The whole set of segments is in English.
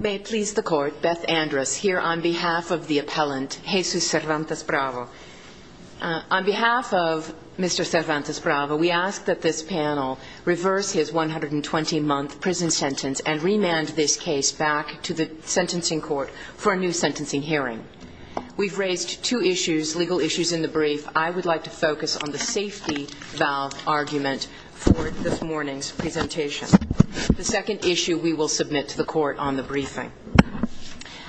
May it please the Court, Beth Andrus here on behalf of the appellant, Jesus Cervantes-Bravo. On behalf of Mr. Cervantes-Bravo, we ask that this panel reverse his 120-month prison sentence and remand this case back to the Sentencing Court for a new sentencing hearing. We've raised two issues, legal issues, in the brief. I would like to focus on the safety valve argument for this morning's presentation, the second issue we will submit to the Court on the briefing.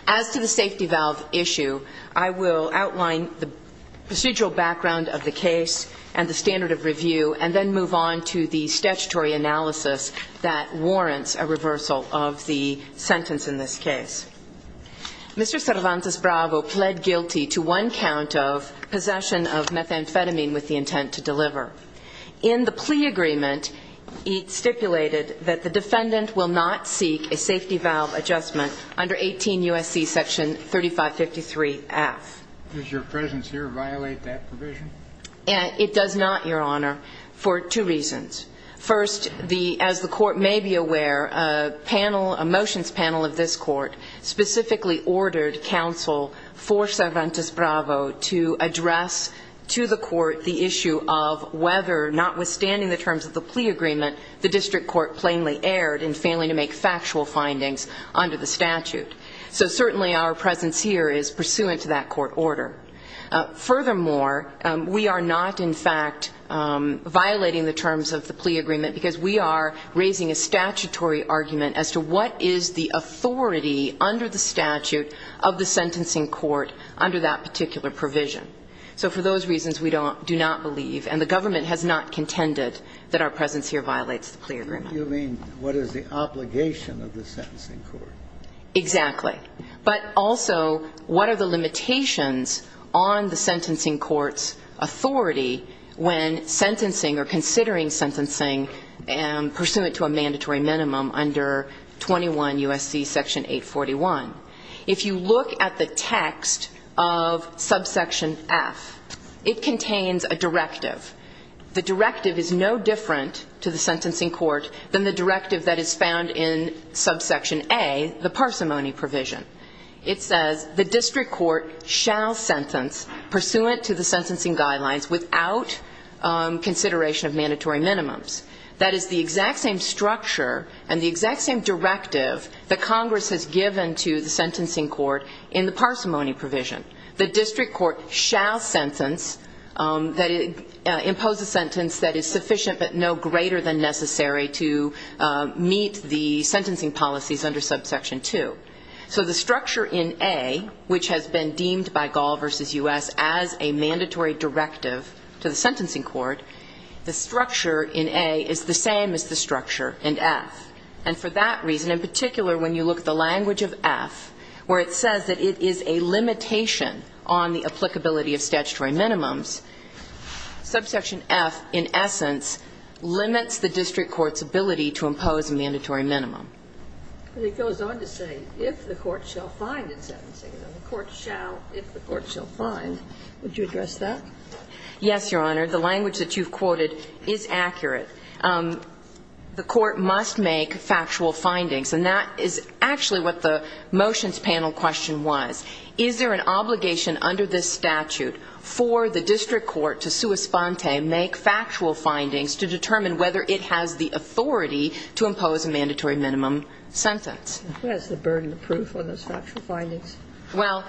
As to the safety valve issue, I will outline the procedural background of the case and the standard of review and then move on to the statutory analysis that warrants a reversal of the sentence in this case. Mr. Cervantes-Bravo pled guilty to one count of possession of methamphetamine with the intent to deliver. In the plea agreement, it stipulated that the defendant will not seek a safety valve adjustment under 18 U.S.C. section 3553-F. Does your presence here violate that provision? It does not, Your Honor, for two reasons. First, as the Court may be aware, a motions panel of this Court specifically ordered counsel for Cervantes-Bravo to address to the Court the issue of whether, notwithstanding the terms of the plea agreement, the District Court plainly erred in failing to make factual findings under the statute. So certainly our presence here is pursuant to that Court order. Furthermore, we are not, in fact, violating the terms of the plea agreement because we are raising a statutory argument as to what is the authority under the statute of the sentencing court under that particular provision. So for those reasons, we do not believe, and the government has not contended, that our presence here violates the plea agreement. You mean, what is the obligation of the sentencing court? Exactly. But also, what are the limitations on the sentencing court's authority when sentencing or considering sentencing pursuant to a mandatory minimum under 21 U.S.C. section 841? If you look at the text of subsection F, it contains a directive. The directive is no different to the sentencing court than the directive that is found in subsection A, the parsimony provision. It says, The District Court shall sentence pursuant to the sentencing guidelines without consideration of mandatory minimums. That is the exact same structure and the exact same directive that Congress has given to the sentencing court in the parsimony provision. The District Court shall sentence, impose a sentence that is sufficient but no greater than necessary to meet the sentencing policies under subsection 2. So the structure in A, which has been deemed by Gall v. U.S. as a mandatory directive to the sentencing court, the structure in A is the same as the structure in F. And for that reason, in particular, when you look at the language of F, where it says that it is a limitation on the applicability of statutory minimums, subsection F, in essence, limits the District Court's ability to impose a mandatory minimum. But it goes on to say, if the court shall find in sentencing, and the court shall, if the court shall find, would you address that? Yes, Your Honor. The language that you've quoted is accurate. The court must make factual findings, and that is actually what the motions panel question was. Is there an obligation under this statute for the District Court to sua sponte, make factual findings, to determine whether it has the authority to impose a mandatory minimum sentence? What is the burden of proof on those factual findings? Well,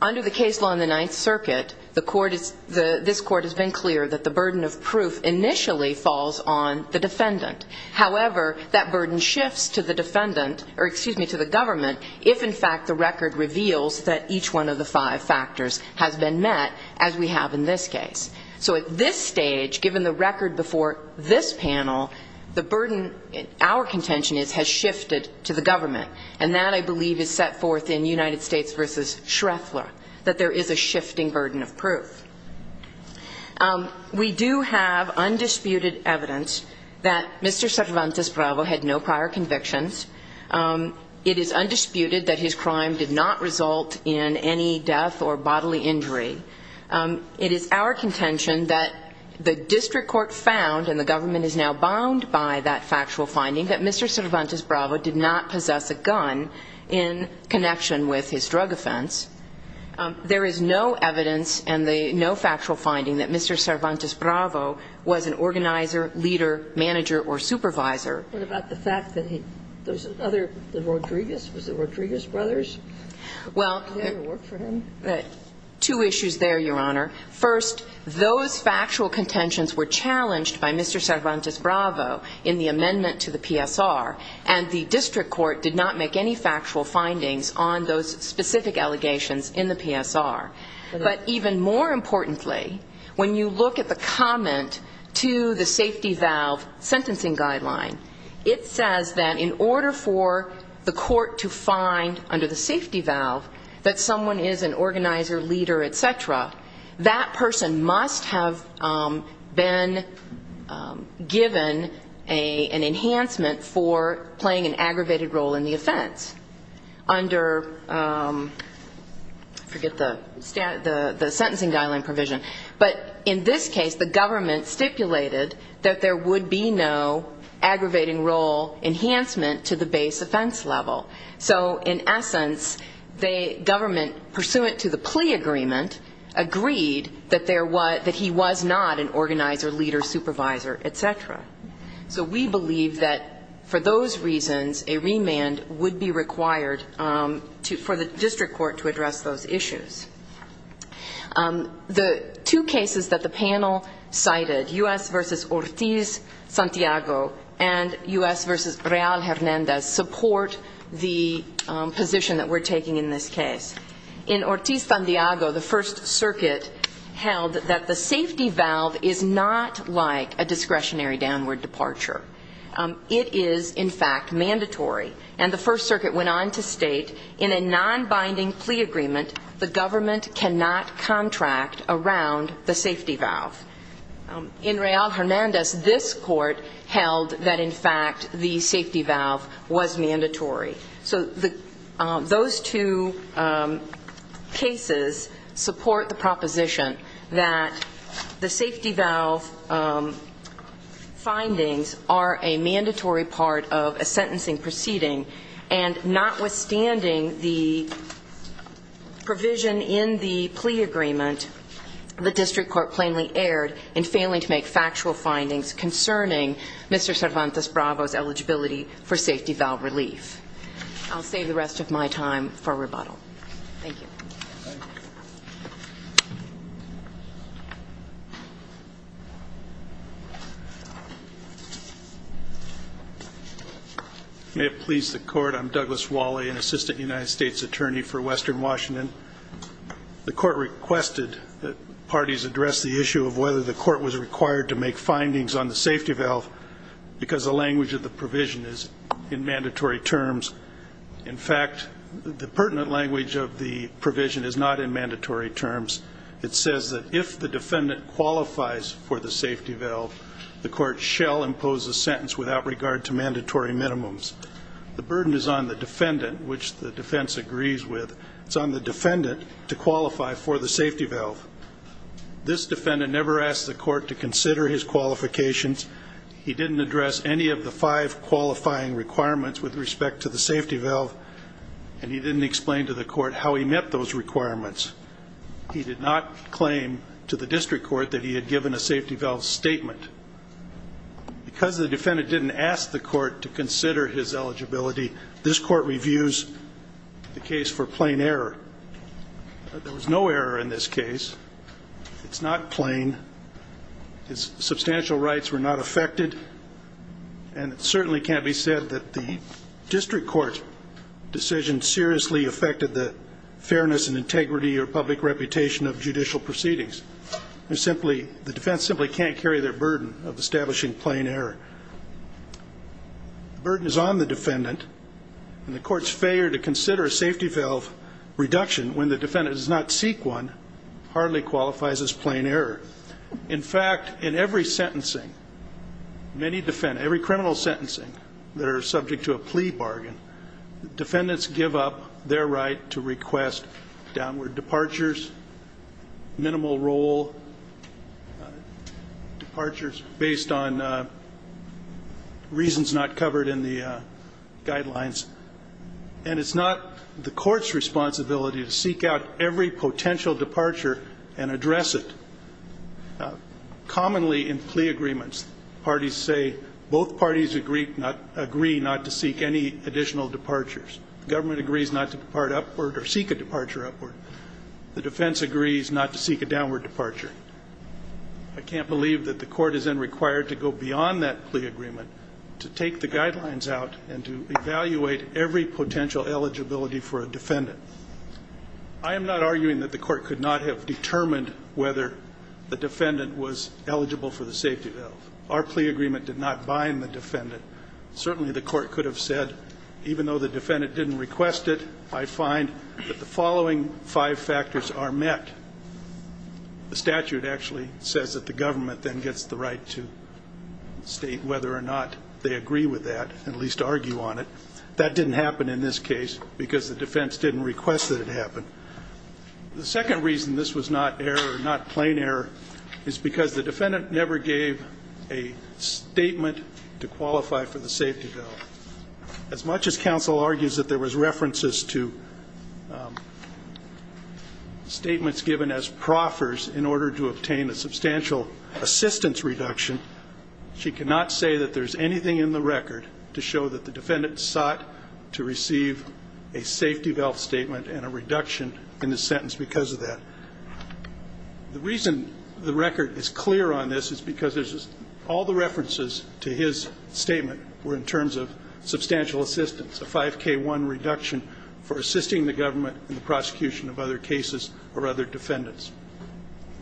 under the case law in the Ninth Circuit, the court is, this court has been clear that the burden of proof initially falls on the defendant. However, that burden shifts to the defendant, or excuse me, to the government, if in fact the record reveals that each one of the five factors has been met, as we have in this case. So at this stage, given the record before this panel, the burden, our contention is, has shifted to the government. And that, I believe, is set forth in United States v. Shreffler, that there is a shifting burden of proof. We do have undisputed evidence that Mr. Cervantes Bravo had no prior convictions. It is undisputed that his crime did not result in any death or bodily injury. It is our contention that the District Court found, and the government is now bound by that factual finding, that Mr. Cervantes Bravo did not possess a gun in connection with his drug offense. There is no evidence and no factual finding that Mr. Cervantes Bravo was an organizer, leader, manager, or supervisor. What about the fact that he, those other, the Rodriguez, was it the Rodriguez brothers? Well, two issues there, Your Honor. First, those factual contentions were challenged by Mr. Cervantes Bravo in the amendment to the PSR, and the District Court did not make any factual findings on those specific allegations in the PSR. But even more importantly, when you look at the comment to the safety valve sentencing guideline, it says that in order for the court to find, under the safety valve, that someone is an organizer, leader, et cetera, that person must have been given an enhancement for playing an aggravated role in the offense. Under, I forget the sentencing guideline provision, but in this case, the government stipulated that there would be no aggravating role enhancement to the base offense level. So in essence, the government, pursuant to the plea agreement, agreed that there was, that he was not an organizer, leader, supervisor, et cetera. So we believe that for those reasons, a remand would be required for the District Court to address those issues. The two cases that the panel cited, U.S. v. Ortiz-Santiago and U.S. v. Real-Hernandez, support the position that we're taking in this case. In Ortiz-Santiago, the First Circuit held that the safety valve is not like a discretionary downward departure. It is, in fact, mandatory. And the First Circuit went on to state, in a non-binding plea agreement, the government cannot contract around the safety valve. In Real-Hernandez, this court held that, in fact, the safety valve was mandatory. So those two cases support the proposition that the safety valve findings are a mandatory part of a sentencing proceeding. And notwithstanding the provision in the plea agreement, the District Court plainly erred in failing to make factual findings concerning Mr. Cervantes-Bravo's eligibility for safety valve relief. I'll save the rest of my time for rebuttal. Thank you. Thank you. May it please the Court, I'm Douglas Wally, an Assistant United States Attorney for Western Washington. The Court requested that parties address the issue of whether the Court was required to make findings on the safety valve because the language of the provision is in mandatory terms. In fact, the pertinent language of the provision is not in mandatory terms. It says that if the defendant qualifies for the safety valve, the Court shall impose a sentence without regard to mandatory minimums. The burden is on the defendant, which the defense agrees with. It's on the defendant to qualify for the safety valve. This defendant never asked the Court to consider his qualifications. He didn't address any of the five qualifying requirements with respect to the safety valve, and he didn't explain to the Court how he met those requirements. He did not claim to the District Court that he had given a safety valve statement. Because the defendant didn't ask the Court to consider his eligibility, this Court reviews the case for plain error. There was no error in this case. It's not plain. His substantial rights were not affected. And it certainly can't be said that the District Court decision seriously affected the fairness and integrity or public reputation of judicial proceedings. The defense simply can't carry their burden of establishing plain error. The burden is on the defendant, and the Court's failure to consider a safety valve reduction when the defendant does not seek one hardly qualifies as plain error. In fact, in every sentencing, every criminal sentencing that are subject to a plea bargain, defendants give up their right to request downward departures, minimal roll departures based on reasons not covered in the guidelines. And it's not the Court's responsibility to seek out every potential departure and address it. Commonly in plea agreements, parties say both parties agree not to seek any additional departures. The government agrees not to depart upward or seek a departure upward. The defense agrees not to seek a downward departure. I can't believe that the Court is then required to go beyond that plea agreement to take the guidelines out and to evaluate every potential eligibility for a defendant. I am not arguing that the Court could not have determined whether the defendant was eligible for the safety valve. Our plea agreement did not bind the defendant. Certainly the Court could have said, even though the defendant didn't request it, I find that the following five factors are met. The statute actually says that the government then gets the right to state whether or not they agree with that, at least argue on it. That didn't happen in this case because the defense didn't request that it happen. The second reason this was not error, not plain error, is because the defendant never gave a statement to qualify for the safety valve. As much as counsel argues that there was references to statements given as proffers in order to obtain a substantial assistance reduction, she cannot say that there's anything in the record to show that the defendant sought to receive a safety valve statement and a reduction in the sentence because of that. The reason the record is clear on this is because all the references to his statement were in terms of substantial assistance, a 5k1 reduction for assisting the government in the prosecution of other cases or other defendants.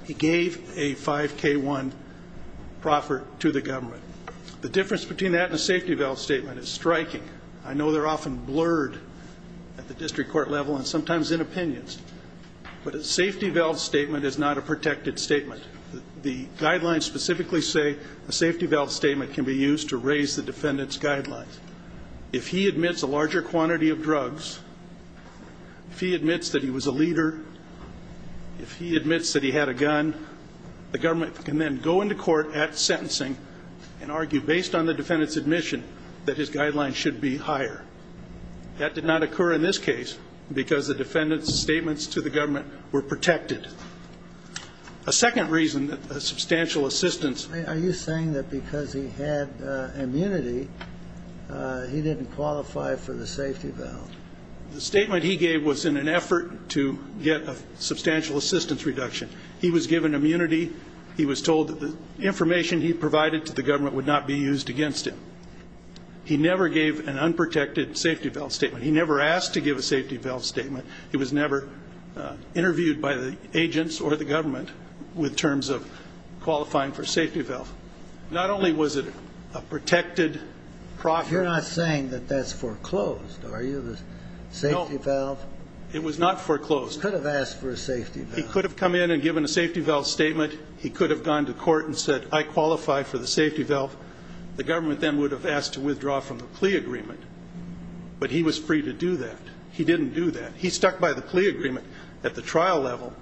He gave a 5k1 proffer to the government. The difference between that and a safety valve statement is striking. I know they're often blurred at the district court level and sometimes in opinions, but a safety valve statement is not a protected statement. The guidelines specifically say a safety valve statement can be used to raise the defendant's guidelines. If he admits a larger quantity of drugs, if he admits that he was a leader, if he admits that he had a gun, the government can then go into court at sentencing and argue based on the defendant's admission that his guidelines should be higher. That did not occur in this case because the defendant's statements to the government were protected. A second reason that a substantial assistance... Are you saying that because he had immunity, he didn't qualify for the safety valve? The statement he gave was in an effort to get a substantial assistance reduction. He was given immunity. He was told that the information he provided to the government would not be used against him. He never gave an unprotected safety valve statement. He never asked to give a safety valve statement. He was never interviewed by the agents or the government with terms of qualifying for safety valve. Not only was it a protected... You're not saying that that's foreclosed, are you? The safety valve... It was not foreclosed. He could have asked for a safety valve. He could have come in and given a safety valve statement. He could have gone to court and said, I qualify for the safety valve. The government then would have asked to withdraw from the plea agreement, but he was free to do that. He didn't do that. He stuck by the plea agreement at the trial level,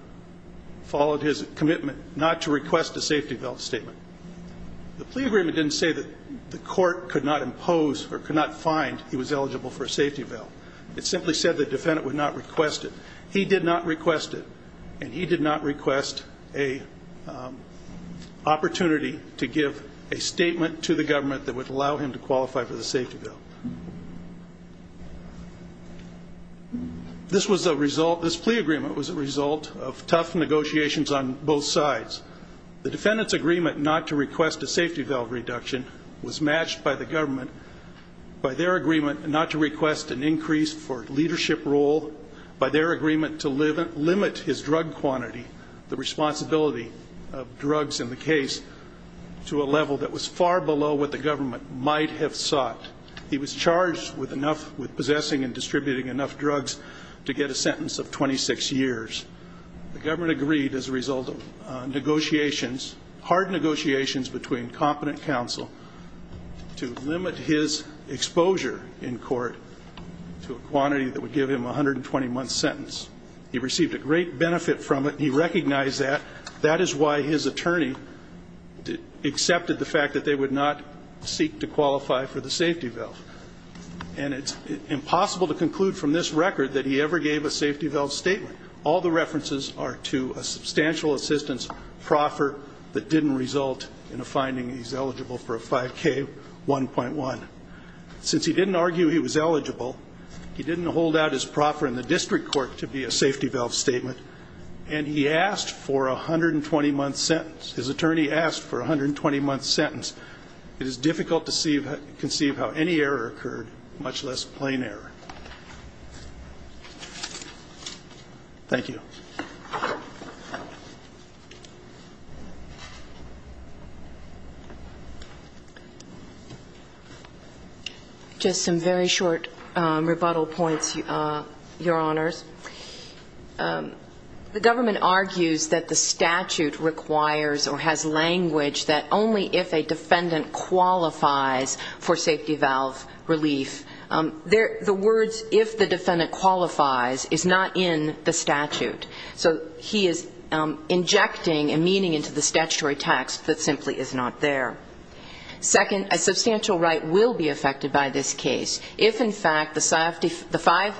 followed his commitment not to request a safety valve statement. The plea agreement didn't say that the court could not impose or could not find he was eligible for a safety valve. It simply said the defendant would not request it. He did not request it. And he did not request a opportunity to give a statement to the government that would allow him to qualify for the safety valve. This was a result... This plea agreement was a result of tough negotiations on both sides. The defendant's agreement not to request a safety valve reduction was matched by the government, by their agreement not to request an increase for leadership role, by their agreement to limit his drug quantity, the responsibility of drugs in the case, to a level that was far below what the government might have sought. He was charged with enough... With possessing and distributing enough drugs to get a sentence of 26 years. The government agreed as a result of negotiations, hard negotiations between competent counsel to limit his exposure in court to a quantity that would give him a 120-month sentence. He received a great benefit from it. He recognized that. That is why his attorney accepted the fact that they would not seek to qualify for the safety valve. And it's impossible to conclude from this record that he ever gave a safety valve statement. All the references are to a substantial assistance proffer that didn't result in a finding he's eligible for a 5K 1.1. Since he didn't argue he was eligible, he didn't hold out his proffer in the district court to be a safety valve statement, and he asked for a 120-month sentence. His attorney asked for a 120-month sentence. It is difficult to conceive how any error occurred, much less plain error. Thank you. Just some very short rebuttal points, Your Honors. The government argues that the statute requires or has language that only if a defendant qualifies for safety valve relief. The words, if the defendant qualifies, is not in the statute. So he is injecting a meaning into the statutory text that simply is not there. Second, a substantial right will be affected by this case. If, in fact, the five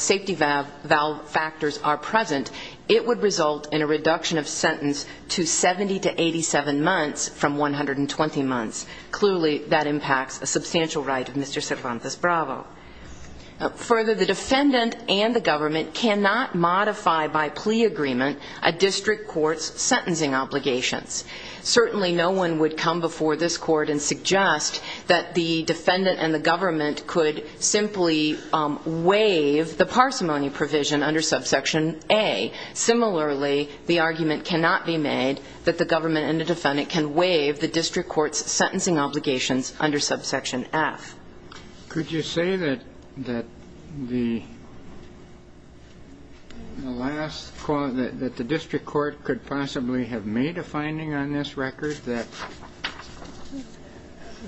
safety valve factors are present, it would result in a reduction of sentence to 70 to 87 months from 120 months. Clearly, that impacts a substantial right of Mr. Cervantes Bravo. Further, the defendant and the government cannot modify by plea agreement a district court's sentencing obligations. Certainly, no one would come before this court and suggest that the defendant and the government could simply waive the parsimony provision under subsection A. Similarly, the argument cannot be made that the government and the defendant can waive the district court's sentencing obligations under subsection F. Could you say that the district court could possibly have made a finding on this record that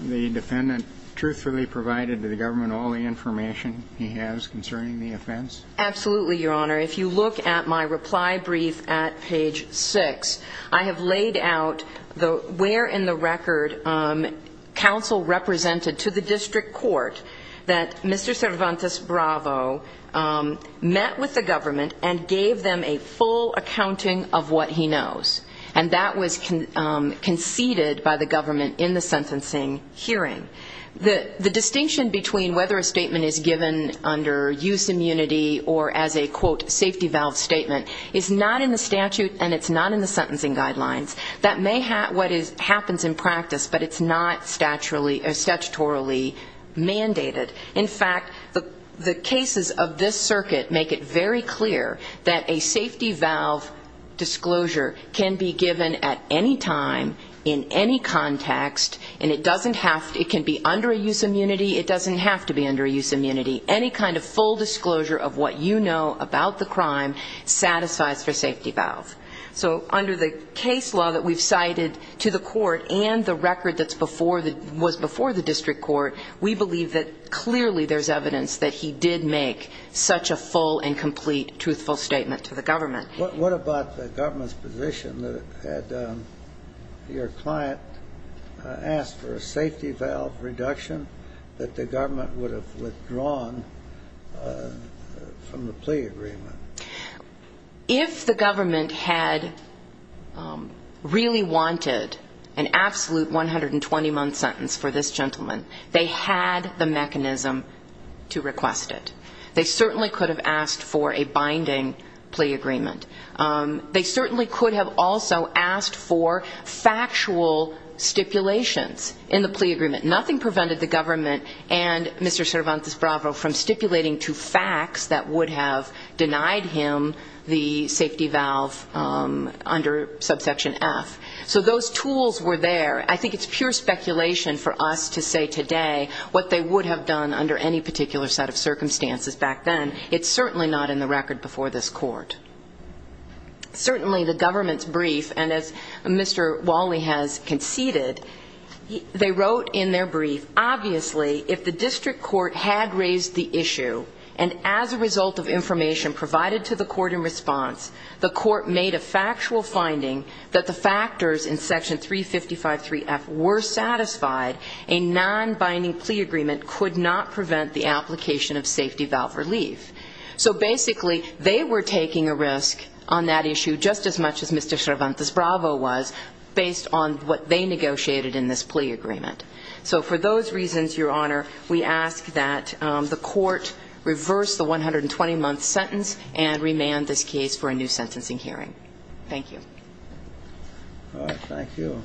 the defendant truthfully provided to the government all the information he has concerning the offense? Absolutely, Your Honor. If you look at my reply brief at page 6, I have laid out where in the record counsel represented to the district court that Mr. Cervantes Bravo met with the government and gave them a full accounting of what he knows. And that was conceded by the government in the sentencing hearing. The distinction between whether a statement is given under use immunity or as a, quote, safety valve statement is not in the statute and it's not in the sentencing guidelines. That may be what happens in practice, but it's not statutorily mandated. In fact, the cases of this circuit make it very clear that a safety valve disclosure can be given at any time, in any context, and it can be under a use immunity. It doesn't have to be under a use immunity. Any kind of full disclosure of what you know about the crime satisfies for safety valve. So under the case law that we've cited to the court and the record that was before the district court, we believe that clearly there's evidence that he did make such a full and complete truthful statement to the government. What about the government's position that had your client asked for a safety valve reduction that the government would have withdrawn from the plea agreement? If the government had really wanted an absolute 120-month sentence for this gentleman, they had the mechanism to request it. They certainly could have asked for a binding plea agreement. They certainly could have also asked for factual stipulations in the plea agreement. Nothing prevented the government and Mr. Cervantes-Bravo from stipulating two facts that would have denied him the safety valve under subsection F. So those tools were there. I think it's pure speculation for us to say today what they would have done under any particular set of circumstances back then. It's certainly not in the record before this court. Certainly the government's brief, and as Mr. Wally has conceded, they wrote in their brief, obviously if the district court had raised the issue and as a result of information provided to the court in response, the court made a factual finding that the factors in of safety valve relief. So basically they were taking a risk on that issue just as much as Mr. Cervantes-Bravo was based on what they negotiated in this plea agreement. So for those reasons, Your Honor, we ask that the court reverse the 120-month sentence and remand this case for a new sentencing hearing. Thank you. All right. Thank you.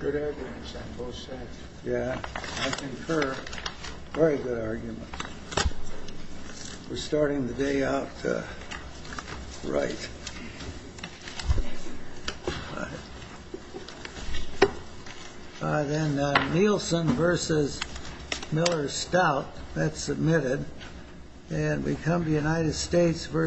Good evidence on both sides. Yeah. I concur. Very good argument. We're starting the day out right. All right. Then Nielsen versus Miller-Stout. That's submitted. And we come to United States v.